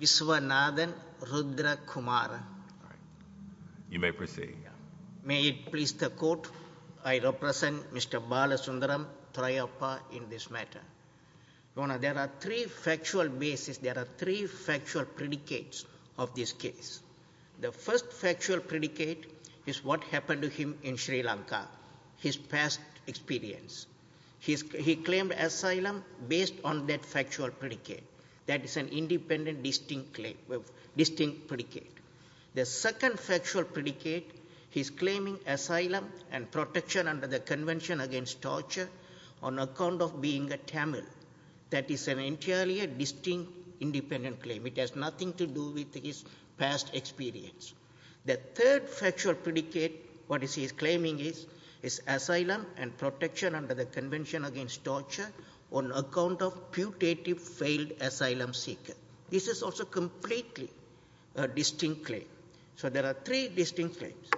Vishwanathan Rudrakumaran May it please the Court, I represent Mr. Balasundaram Thraiyappah in this matter. There are three factual basis, there are three factual predicates of this case. The first factual predicate is what happened to him in Sri Lanka, his past experience. He claimed asylum based on that factual predicate. That is an independent distinct predicate. The second factual predicate, he is claiming asylum and protection under the Convention Against Torture on account of being a Tamil. That is entirely a distinct independent claim. It has nothing to do with his past experience. The third factual predicate, what he is claiming is asylum and protection under the Convention Against Torture on account of putative failed asylum seeker. This is also completely a distinct claim. So there are three distinct claims.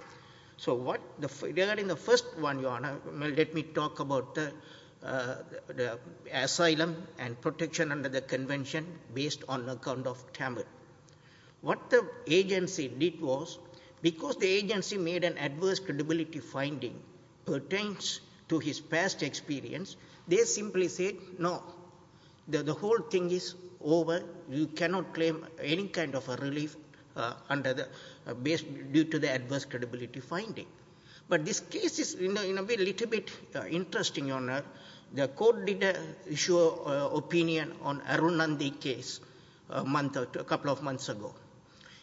So regarding the first one, let me talk about the asylum and protection under the Convention based on account of Tamil. What the agency did was, because the agency made an adverse credibility finding pertains to his past experience, they simply said, no, the whole thing is over, you cannot claim any kind of relief due to the adverse credibility finding. But this case is a little bit interesting, Your Honour. The court did issue an opinion on Arunanthi case a couple of months ago.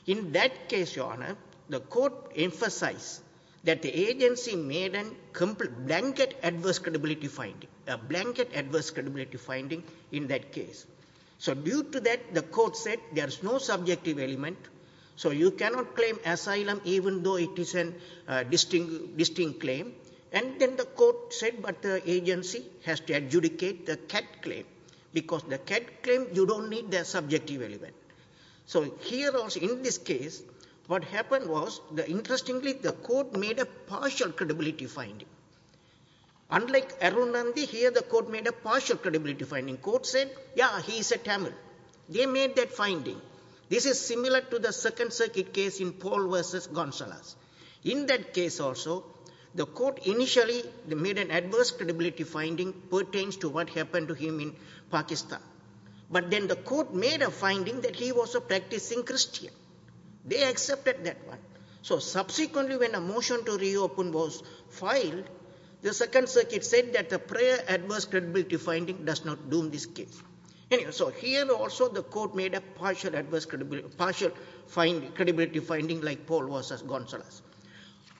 In that case, Your Honour, the court emphasised that the agency made a blanket adverse credibility finding. A blanket adverse credibility finding in that case. So due to that, the court said, there is no subjective element. So you cannot claim asylum even though it is a distinct claim. And then the court said, but the agency has to adjudicate the CAD claim. Because the CAD claim, you don't need the subjective element. So here also in this case, what happened was, interestingly, the court made a partial credibility finding. Unlike Arunanthi, here the court made a partial credibility finding. The court said, yeah, he is a Tamil. They made that finding. This is similar to the Second Circuit case in Paul v. Gonzalez. In that case also, the court initially made an adverse credibility finding pertains to what happened to him in Pakistan. But then the court made a finding that he was a practicing Christian. They accepted that one. So subsequently when a motion to reopen was filed, the Second Circuit said that the prior adverse credibility finding does not do in this case. So here also the court made a partial credibility finding like Paul v. Gonzalez.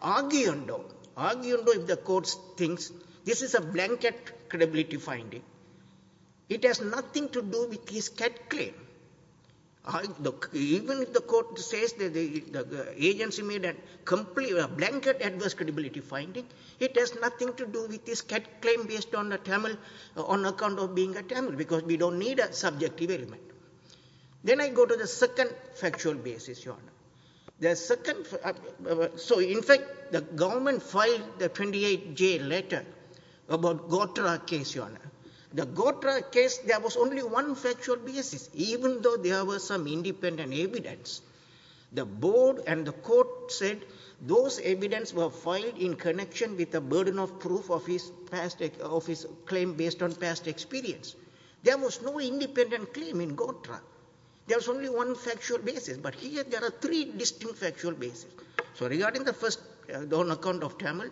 Arguing though, if the court thinks this is a blanket credibility finding, it has nothing to do with his CAD claim. Even if the court says that the agency made a blanket adverse credibility finding, it has nothing to do with this CAD claim based on the Tamil, on account of being a Tamil, because we don't need a subjective element. Then I go to the second factual basis, Your Honor. So in fact, the government filed the 28-J letter about Gotra case, Your Honor. The Gotra case, there was only one factual basis, even though there was some independent evidence. The board and the court said those evidence were filed in connection with the burden of proof of his claim based on past experience. There was no independent claim in Gotra. There was only one factual basis, but here there are three distinct factual basis. So regarding the first, on account of Tamil,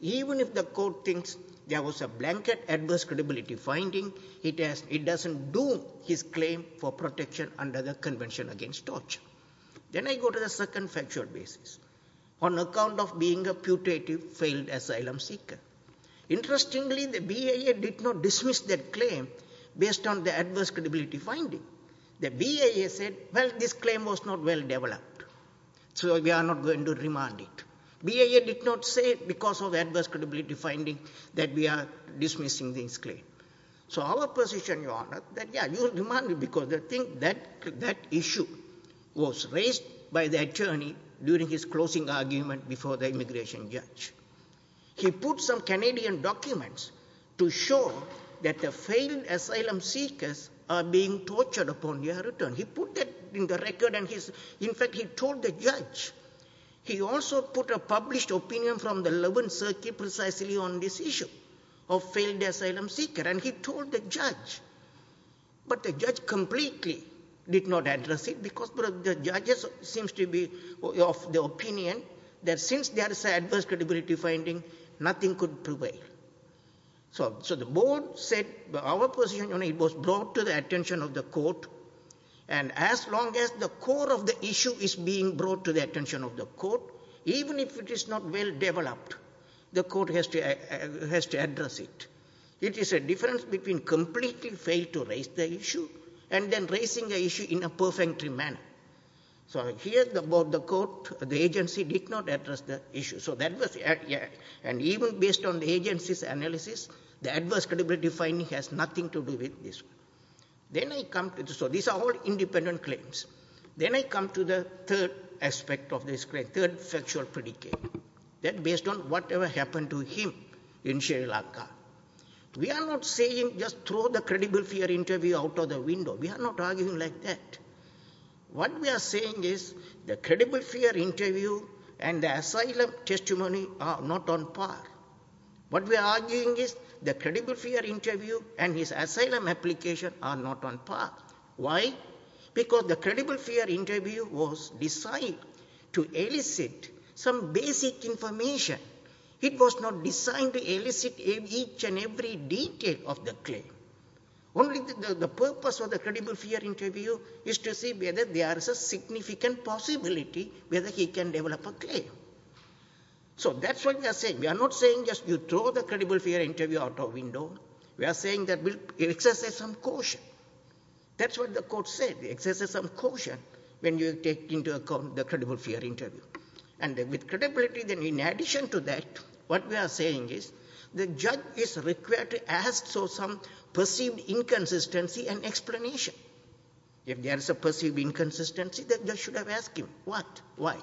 even if the court thinks there was a blanket adverse credibility finding, it doesn't do his claim for protection under the Convention Against Torture. Then I go to the second factual basis, on account of being a putative failed asylum seeker. Interestingly, the BIA did not dismiss that claim based on the adverse credibility finding. The BIA said, well, this claim was not well developed, so we are not going to remand it. BIA did not say because of adverse credibility finding that we are dismissing this claim. So our position, Your Honor, that yes, you will remand it because that issue was raised by the attorney during his closing argument before the immigration judge. He put some Canadian documents to show that the failed asylum seekers are being tortured upon their return. He put that in the record and in fact he told the judge. He also put a published opinion from the 11th Circuit precisely on this issue of failed asylum seekers and he told the judge. But the judge completely did not address it because the judges seem to be of the opinion that since there is an adverse credibility finding, nothing could prevail. So the board said our position, Your Honor, it was brought to the attention of the court and as long as the core of the issue is being brought to the attention of the court, even if it is not well developed, the court has to address it. It is a difference between completely failing to raise the issue and then raising the issue in a perfect manner. So here the agency did not address the issue. And even based on the agency's analysis, the adverse credibility finding has nothing to do with this. So these are all independent claims. Then I come to the third aspect of this claim, the third factual predicate, that based on whatever happened to him in Sri Lanka, we are not saying just throw the credible fear interview out of the window. We are not arguing like that. What we are saying is the credible fear interview and the asylum testimony are not on par. What we are arguing is the credible fear interview and his asylum application are not on par. Why? Because the credible fear interview was designed to elicit some basic information. It was not designed to elicit each and every detail of the claim. Only the purpose of the credible fear interview is to see whether there is a significant possibility whether he can develop a claim. So that's what we are saying. We are not saying just you throw the credible fear interview out of the window. We are saying that we'll exercise some caution. That's what the court said, exercise some caution when you take into account the credible fear interview. And with credibility, in addition to that, what we are saying is the judge is required to ask for some perceived inconsistency and explanation. If there is a perceived inconsistency, the judge should have asked him what, why.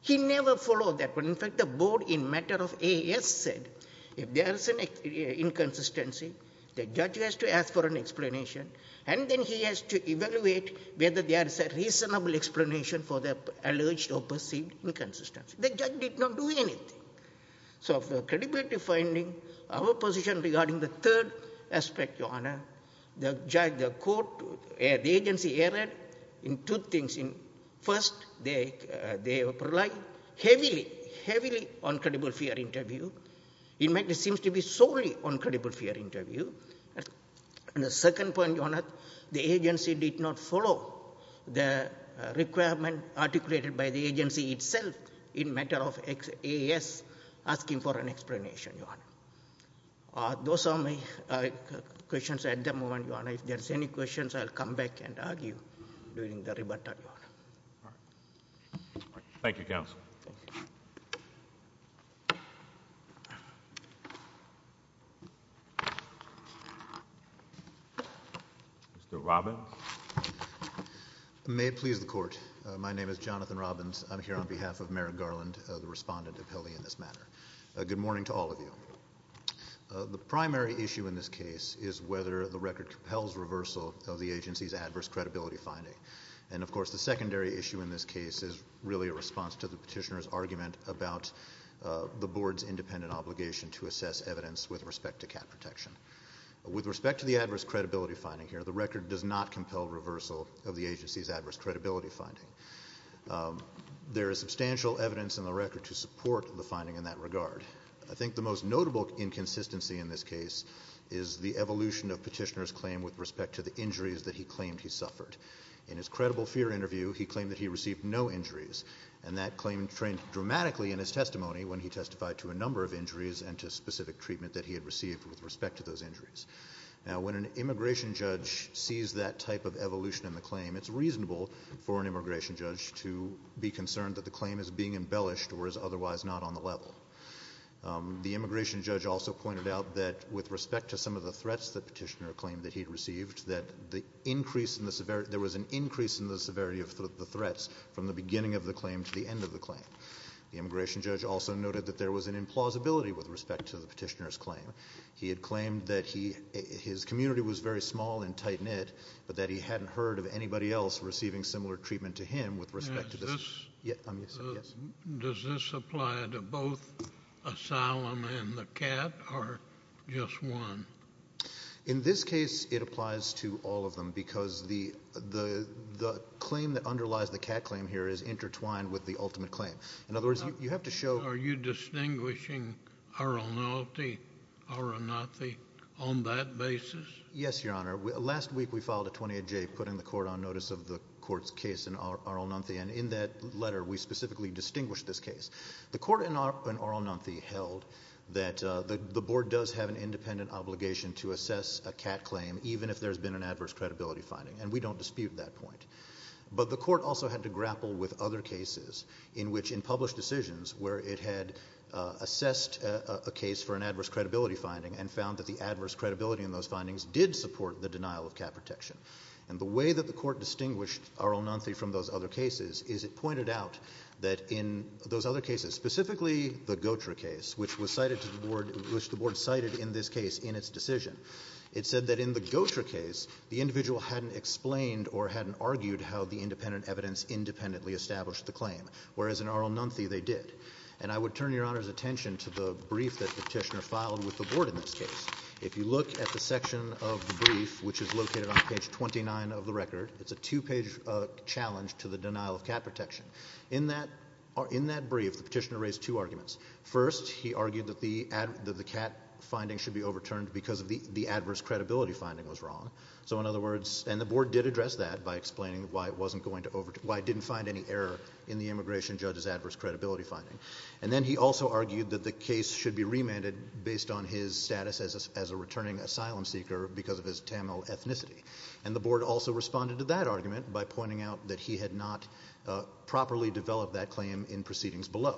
He never followed that. In fact, the board in matter of AAS said if there is an inconsistency, the judge has to ask for an explanation, and then he has to evaluate whether there is a reasonable explanation for the alleged or perceived inconsistency. The judge did not do anything. So for credibility finding, our position regarding the third aspect, Your Honor, the judge, the court, the agency erred in two things. First, they relied heavily, heavily on credible fear interview. In fact, it seems to be solely on credible fear interview. And the second point, Your Honor, the agency did not follow the requirement articulated by the agency itself in matter of AAS asking for an explanation, Your Honor. Those are my questions at the moment, Your Honor. If there's any questions, I'll come back and argue during the rebuttal, Your Honor. Thank you, counsel. Thank you. Mr. Robbins? May it please the court. My name is Jonathan Robbins. I'm here on behalf of Merrick Garland, the respondent of Hilly in this matter. Good morning to all of you. The primary issue in this case is whether the record compels reversal of the agency's adverse credibility finding. And of course, the secondary issue in this case is really a response to the petitioner's argument about the board's independent obligation to assess evidence with respect to cat protection. With respect to the adverse credibility finding here, the record does not compel reversal of the agency's adverse credibility finding. There is substantial evidence in the record to support the finding in that regard. I think the most notable inconsistency in this case is the evolution of petitioner's claim to the injuries that he claimed he suffered. In his credible fear interview, he claimed that he received no injuries. And that claim trained dramatically in his testimony when he testified to a number of injuries and to specific treatment that he had received with respect to those injuries. Now when an immigration judge sees that type of evolution in the claim, it's reasonable for an immigration judge to be concerned that the claim is being embellished or is otherwise not on the level. The immigration judge also pointed out that with respect to some of the threats that petitioner claimed that he had received, that there was an increase in the severity of the threats from the beginning of the claim to the end of the claim. The immigration judge also noted that there was an implausibility with respect to the petitioner's claim. He had claimed that his community was very small and tight-knit, but that he hadn't heard of anybody else receiving similar treatment to him with respect to this. Does this apply to both asylum and the cat, or just one? In this case, it applies to all of them, because the claim that underlies the cat claim here is intertwined with the ultimate claim. In other words, you have to show— Are you distinguishing Arulnathi on that basis? Yes, Your Honor. Last week we filed a 28-J putting the court on notice of the court's case in Arulnathi, and in that letter we specifically distinguished this case. The court in Arulnathi held that the board does have an independent obligation to assess a cat claim, even if there's been an adverse credibility finding, and we don't dispute that point. But the court also had to grapple with other cases in which, in published decisions, where it had assessed a case for an adverse credibility finding and found that the adverse credibility in those findings did support the denial of cat protection. And the way that the court distinguished Arulnathi from those other cases is it pointed out that in those other cases, specifically the Gotra case, which the board cited in this case in its decision, it said that in the Gotra case the individual hadn't explained or hadn't argued how the independent evidence independently established the claim, whereas in Arulnathi they did. And I would turn Your Honor's attention to the brief that Petitioner filed with the board in this case. If you look at the section of the brief, which is located on page 29 of the record, it's a two-page challenge to the denial of cat protection. In that brief, the petitioner raised two arguments. First, he argued that the cat finding should be overturned because the adverse credibility finding was wrong. So in other words, and the board did address that by explaining why it didn't find any error in the immigration judge's adverse credibility finding. And then he also argued that the case should be remanded based on his status as a returning asylum seeker because of his Tamil ethnicity. And the board also responded to that argument by pointing out that he had not properly developed that claim in proceedings below.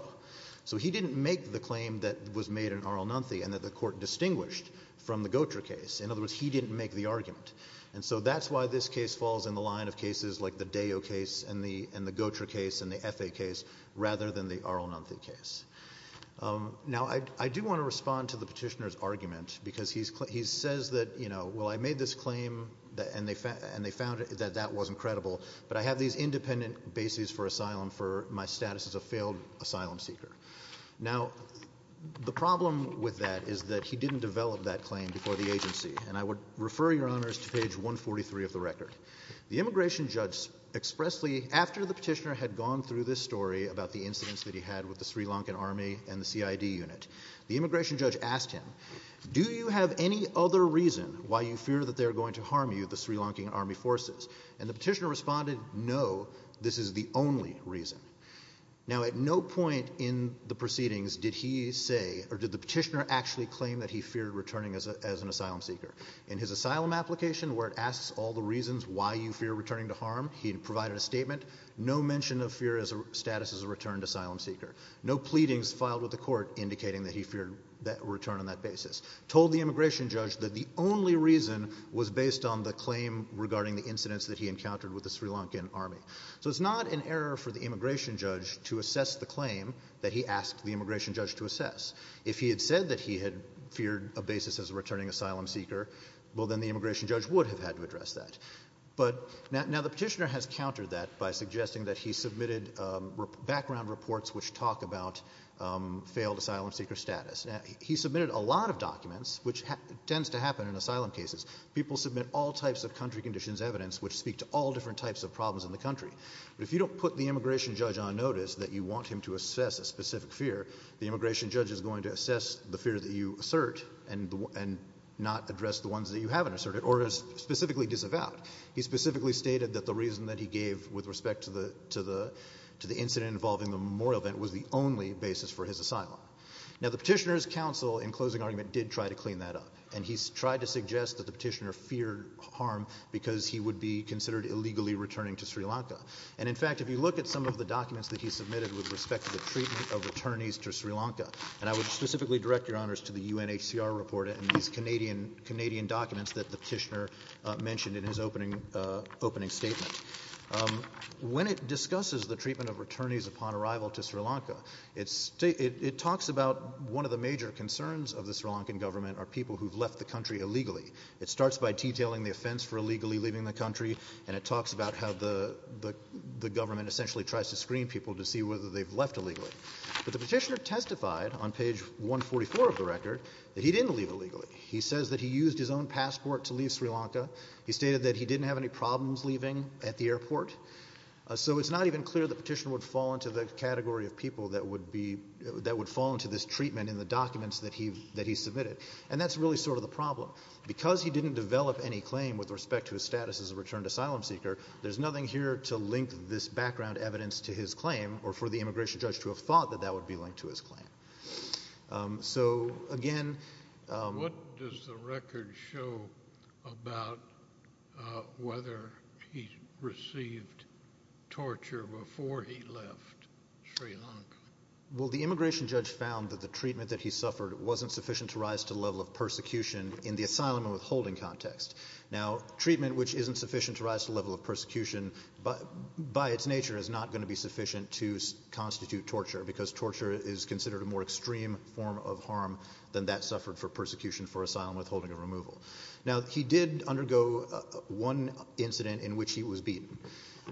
So he didn't make the claim that was made in Arulnathi and that the court distinguished from the Gotra case. In other words, he didn't make the argument. And so that's why this case falls in the line of cases like the Deyo case and the Gotra case and the Effe case rather than the Arulnathi case. Now I do want to respond to the petitioner's argument because he says that, you know, well I made this claim and they found that that wasn't credible, but I have these independent bases for asylum for my status as a failed asylum seeker. Now the problem with that is that he didn't develop that claim before the agency. And I would refer your honors to page 143 of the record. The immigration judge expressly, after the petitioner had gone through this story about the incidents that he had with the Sri Lankan army and the CID unit, the immigration judge asked him, do you have any other reason why you fear that they are going to harm you, the Sri Lankan army forces? And the petitioner responded, no, this is the only reason. Now at no point in the proceedings did he say, or did the petitioner actually claim that he feared returning as an asylum seeker. In his asylum application where it asks all the reasons why you fear returning to harm, he provided a statement, no mention of fear as a status as a returned asylum seeker. No pleadings filed with the court indicating that he feared return on that basis. Told the immigration judge that the only reason was based on the claim regarding the incidents that he encountered with the Sri Lankan army. So it's not an error for the immigration judge to assess the claim that he asked the immigration judge to assess. If he had said that he had feared a basis as a returning asylum seeker, well then the immigration judge would have had to address that. But now the petitioner has countered that by suggesting that he submitted background reports which talk about failed asylum seeker status. He submitted a lot of documents, which tends to happen in asylum cases. People submit all types of country conditions evidence which speak to all different types of problems in the country. But if you don't put the immigration judge on notice that you want him to assess a specific fear, the immigration judge is going to assess the fear that you assert and not address the ones that you haven't asserted or is specifically disavowed. He specifically stated that the reason that he gave with respect to the incident involving the memorial event was the only basis for his asylum. Now the petitioner's counsel, in closing argument, did try to clean that up. And he tried to suggest that the petitioner feared harm because he would be considered illegally returning to Sri Lanka. And in fact, if you look at some of the documents that he submitted with respect to the treatment of returnees to Sri Lanka, and I would specifically direct your honors to the UNHCR report and these Canadian documents that the petitioner mentioned in his opening statement. When it discusses the treatment of returnees upon arrival to Sri Lanka, it talks about one of the major concerns of the Sri Lankan government are people who've left the country illegally. It starts by detailing the offense for illegally leaving the country, and it talks about how the government essentially tries to screen people to see whether they've left illegally. But the petitioner testified on page 144 of the record that he didn't leave illegally. He says that he used his own passport to leave Sri Lanka. He stated that he didn't have any problems leaving at the airport. So it's not even clear the petitioner would fall into the category of people that would be, that would fall into this treatment in the documents that he submitted. And that's really sort of the problem. Because he didn't develop any claim with respect to his status as a returned asylum seeker, there's nothing here to link this background evidence to his claim, or for the immigration judge to have thought that that would be linked to his claim. So, again... What does the record show about whether he received torture before he left Sri Lanka? Well, the immigration judge found that the treatment that he suffered wasn't sufficient to rise to the level of persecution in the asylum and withholding context. Now, treatment which isn't sufficient to rise to the level of persecution by its nature is not going to be sufficient to constitute torture, because torture is considered a more extreme form of harm than that suffered for persecution for asylum withholding and removal. Now, he did undergo one incident in which he was beaten.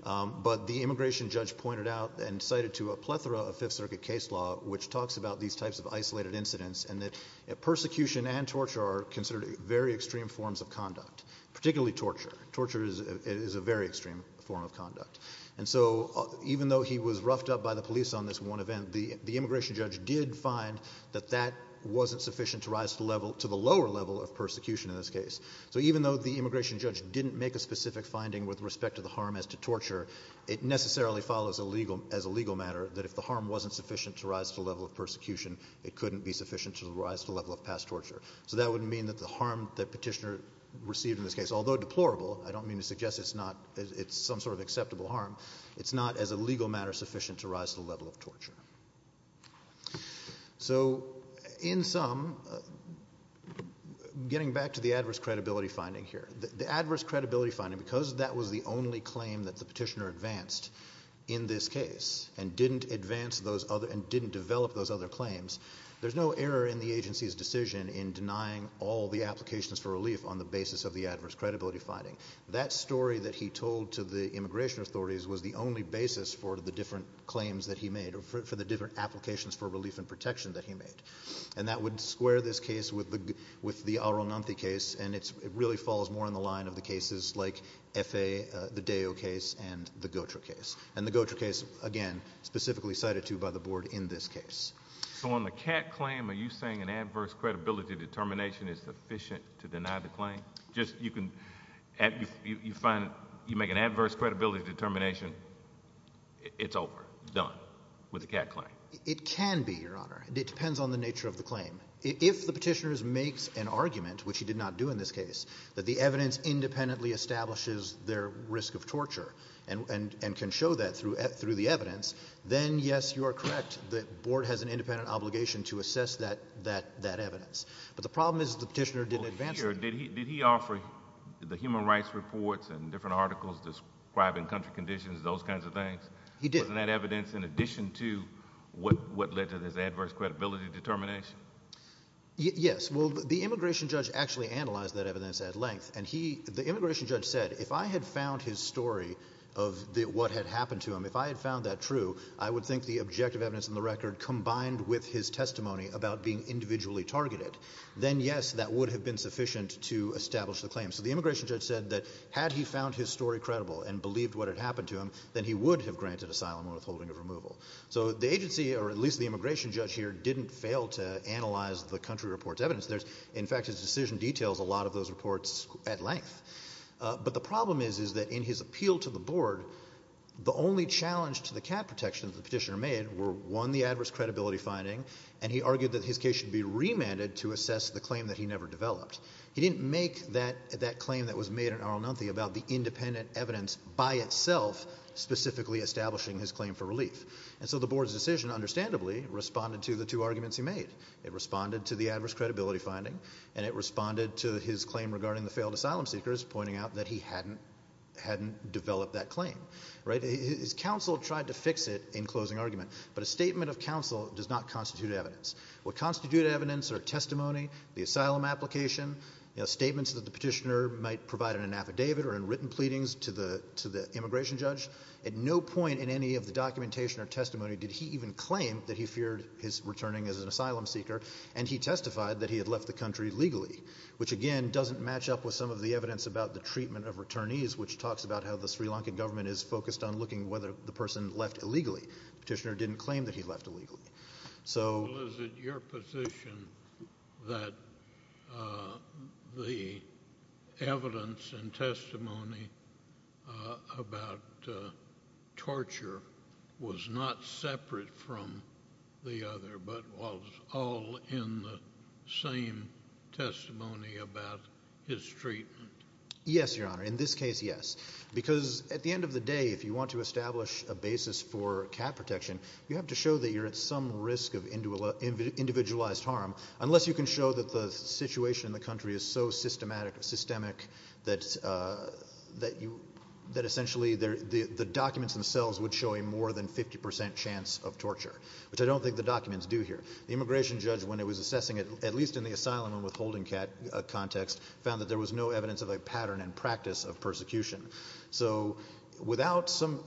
But the immigration judge pointed out and cited to a plethora of Fifth Circuit case law which talks about these types of isolated incidents, and that persecution and torture are considered very extreme forms of conduct, particularly torture. Torture is a very extreme form of conduct. And so, even though he was roughed up by the police on this one event, the immigration judge did find that that wasn't sufficient to rise to the lower level of persecution in this case. So, even though the immigration judge didn't make a specific finding with respect to the harm as to torture, it necessarily follows as a legal matter that if the harm wasn't sufficient to rise to the level of persecution, it couldn't be sufficient to rise to the level of past torture. So, that would mean that the harm that Petitioner received in this case, although deplorable, I don't mean to suggest it's some sort of acceptable harm, it's not as a legal matter sufficient to rise to the level of torture. So, in sum, getting back to the adverse credibility finding here, the adverse credibility finding, because that was the only claim that the Petitioner advanced in this case and didn't develop those other claims, there's no error in the agency's decision in denying all the applications for relief on the basis of the adverse credibility finding. That story that he told to the immigration authorities was the only basis for the different claims that he made, or for the different applications for relief and protection that he made. And that would square this case with the Arunanthi case, and it really falls more on the line of the cases like Efe, the Deyo case, and the Gotra case. And the Gotra case, again, specifically cited too by the board in this case. So on the Catt claim, are you saying an adverse credibility determination is sufficient to deny the claim? Just, you can, you find, you make an adverse credibility determination, it's over, done, with the Catt claim? It can be, Your Honor. It depends on the nature of the claim. If the Petitioner makes an argument, which he did not do in this case, that the evidence independently establishes their risk of torture, and can show that through the evidence, then yes, you are correct. The board has an independent obligation to assess that evidence. But the problem is the Petitioner didn't advance it. Did he offer the human rights reports and different articles describing country conditions, those kinds of things? He did. Wasn't that evidence in addition to what led to this adverse credibility determination? Yes. Well, the immigration judge actually analyzed that evidence at length, and he, the immigration judge said, if I had found his story of what had happened to him, if I had found that true, I would think the objective evidence in the record combined with his testimony about being individually targeted, then yes, that would have been sufficient to establish the claim. So the immigration judge said that had he found his story credible and believed what had happened to him, then he would have granted asylum and withholding of removal. So the agency, or at least the immigration judge here, didn't fail to analyze the country report's evidence. There's, in fact, his decision details a lot of those reports at length. But the problem is, is that in his appeal to the Board, the only challenge to the cat protections the Petitioner made were, one, the adverse credibility finding, and he argued that his case should be remanded to assess the claim that he never developed. He didn't make that claim that was made in Arlenothe about the independent evidence by itself specifically establishing his claim for relief. And so the Board's decision, understandably, responded to the two arguments he made. It responded to the adverse credibility finding, and it responded to his claim regarding the Petitioner's pointing out that he hadn't developed that claim, right? His counsel tried to fix it in closing argument, but a statement of counsel does not constitute evidence. What constitute evidence are testimony, the asylum application, statements that the Petitioner might provide in an affidavit or in written pleadings to the immigration judge. At no point in any of the documentation or testimony did he even claim that he feared his returning as an asylum seeker, and he testified that he had left the country legally, which, again, doesn't match up with some of the evidence about the treatment of returnees, which talks about how the Sri Lankan government is focused on looking whether the person left illegally. The Petitioner didn't claim that he left illegally. So... Well, is it your position that the evidence and testimony about torture was not separate from the other, but was all in the same testimony about his treatment? Yes, Your Honor. In this case, yes, because at the end of the day, if you want to establish a basis for cat protection, you have to show that you're at some risk of individualized harm, unless you can show that the situation in the country is so systematic, that essentially the documents themselves would show a more than 50% chance of torture, which I don't think the documents do here. The immigration judge, when he was assessing it, at least in the asylum and withholding cat context, found that there was no evidence of a pattern and practice of persecution. So without some...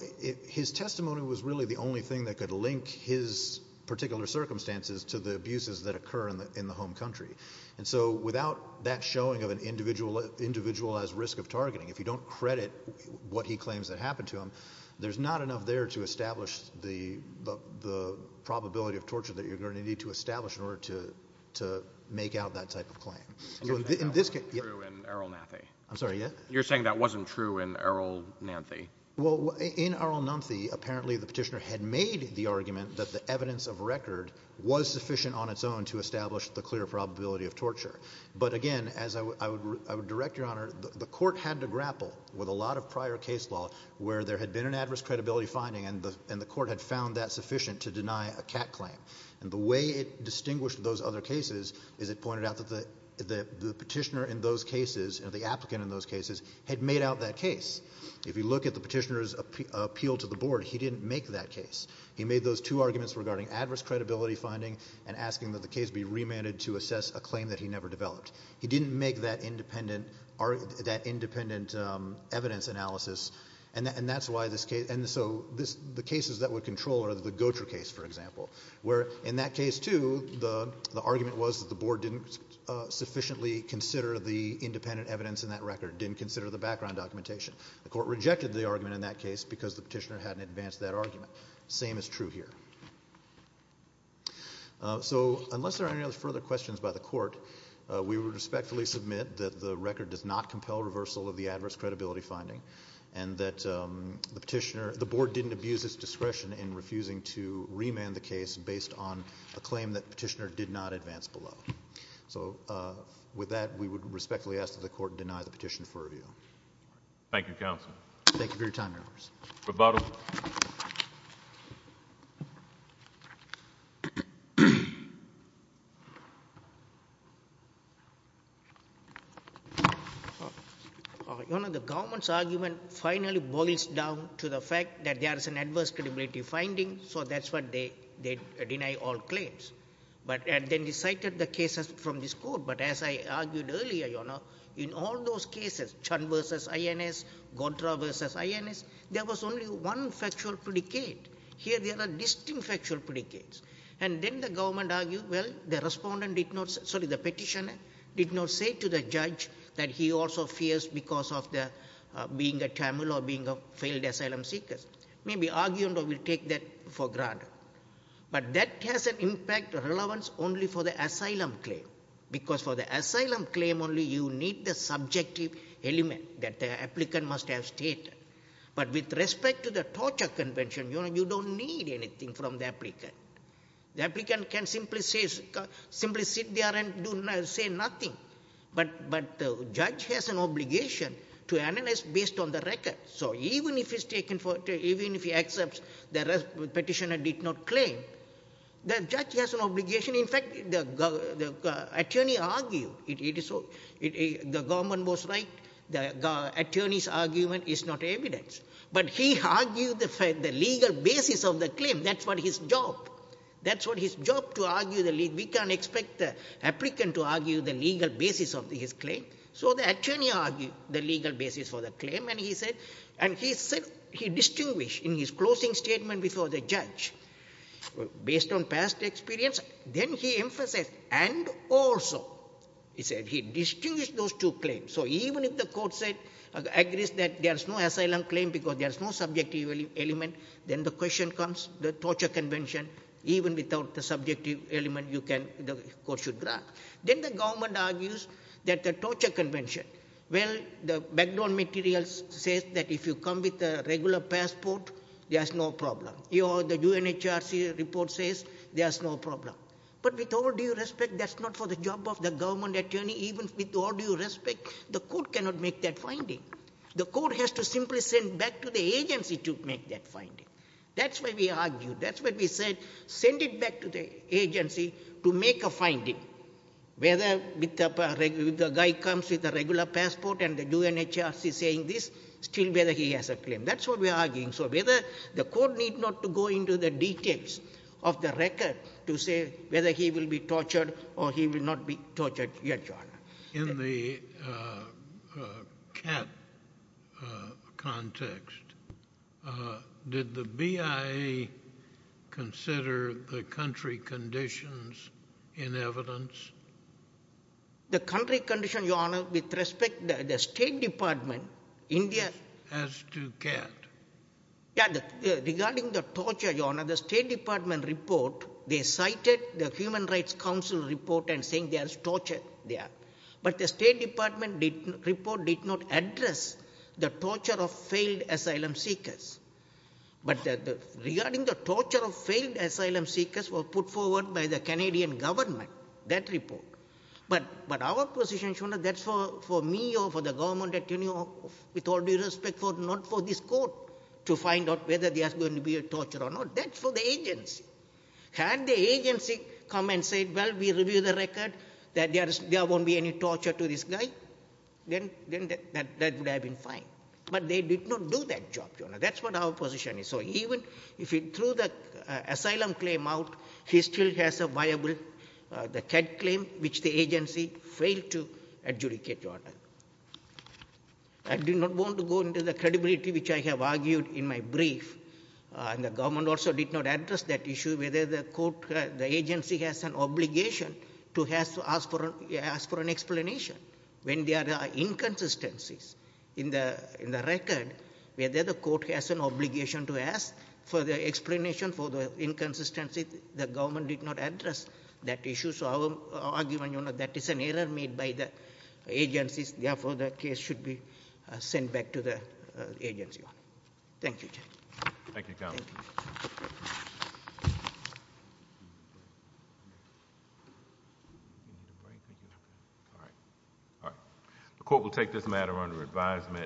His testimony was really the only thing that could link his particular circumstances to the abuses that occur in the home country. And so without that showing of an individualized risk of targeting, if you don't credit what he claims that happened to him, there's not enough there to establish the probability of torture that you're going to need to establish in order to make out that type of claim. In this case... That wasn't true in Errol Nanthi. I'm sorry, yeah? You're saying that wasn't true in Errol Nanthi? Well, in Errol Nanthi, apparently the petitioner had made the argument that the evidence of record was sufficient on its own to establish the clear probability of torture. But again, as I would direct, Your Honor, the court had to grapple with a lot of prior case law where there had been an adverse credibility finding and the court had found that sufficient to deny a cat claim. And the way it distinguished those other cases is it pointed out that the petitioner in those cases, the applicant in those cases, had made out that case. If you look at the petitioner's appeal to the board, he didn't make that case. He made those two arguments regarding adverse credibility finding and asking that the case be remanded to assess a claim that he never developed. He didn't make that independent evidence analysis and that's why this case... And so the cases that would control are the Gotra case, for example, where in that case too, the argument was that the board didn't sufficiently consider the independent evidence in that record, didn't consider the background documentation. The court rejected the argument in that case because the petitioner hadn't advanced that argument. Same is true here. So, unless there are any other further questions by the court, we would respectfully submit that the record does not compel reversal of the adverse credibility finding and that the petitioner... The board didn't abuse its discretion in refusing to remand the case based on a claim that petitioner did not advance below. So with that, we would respectfully ask that the court deny the petition for review. Thank you, counsel. Thank you for your time, Your Honors. Rebuttal. Your Honor, the government's argument finally boils down to the fact that there is an adverse credibility finding, so that's why they deny all claims. But then they cited the cases from this court, but as I argued earlier, Your Honor, in all cases, there is one factual predicate. Here there are distinct factual predicates. And then the government argued, well, the petitioner did not say to the judge that he also fears because of being a Tamil or being a failed asylum seeker. Maybe argument will take that for granted. But that has an impact of relevance only for the asylum claim, because for the asylum claim only you need the subjective element that the applicant must have stated. But with respect to the torture convention, Your Honor, you don't need anything from the applicant. The applicant can simply sit there and say nothing. But the judge has an obligation to analyze based on the record. So even if he accepts the petitioner did not claim, the judge has an obligation. In fact, the attorney argued, the government was right, the attorney's argument is not evidence. But he argued the legal basis of the claim, that's what his job. That's what his job to argue the legal, we can't expect the applicant to argue the legal basis of his claim. So the attorney argued the legal basis for the claim, and he said, and he said he distinguished in his closing statement before the judge, based on past experience, then he emphasized and also he said he distinguished those two claims. So even if the court said, agrees that there's no asylum claim because there's no subjective element, then the question comes, the torture convention, even without the subjective element you can, the court should grant. Then the government argues that the torture convention, well, the background materials says that if you come with a regular passport, there's no problem. The UNHRC report says there's no problem. But with all due respect, that's not for the job of the government attorney. Even with all due respect, the court cannot make that finding. The court has to simply send back to the agency to make that finding. That's why we argue. That's why we said, send it back to the agency to make a finding, whether the guy comes with a regular passport and the UNHRC saying this, still whether he has a claim. That's what we are arguing. So whether the court need not to go into the details of the record to say whether he will be tortured or he will not be tortured yet, Your Honor. In the CAT context, did the BIA consider the country conditions in evidence? The country condition, Your Honor, with respect, the State Department, India. As to CAT. Yeah, regarding the torture, Your Honor, the State Department report, they cited the Human Rights Council report and saying there's torture there. But the State Department report did not address the torture of failed asylum seekers. But regarding the torture of failed asylum seekers was put forward by the Canadian government, that report. But our position, Your Honor, that's for me or for the government attorney, with all due respect, not for this court to find out whether there's going to be a torture or not. That's for the agency. Had the agency come and said, well, we review the record, that there won't be any torture to this guy, then that would have been fine. But they did not do that job, Your Honor. That's what our position is. So even if he threw the asylum claim out, he still has a viable, the CAT claim, which the agency failed to adjudicate, Your Honor. I do not want to go into the credibility which I have argued in my brief, and the government also did not address that issue, whether the agency has an obligation to ask for an explanation when there are inconsistencies in the record, whether the court has an obligation to ask for the explanation for the inconsistency, the government did not address that issue. So our argument, Your Honor, that is an error made by the agencies, therefore the case should be sent back to the agency. Thank you, Your Honor. Thank you. All right. The court will take this matter under advisement.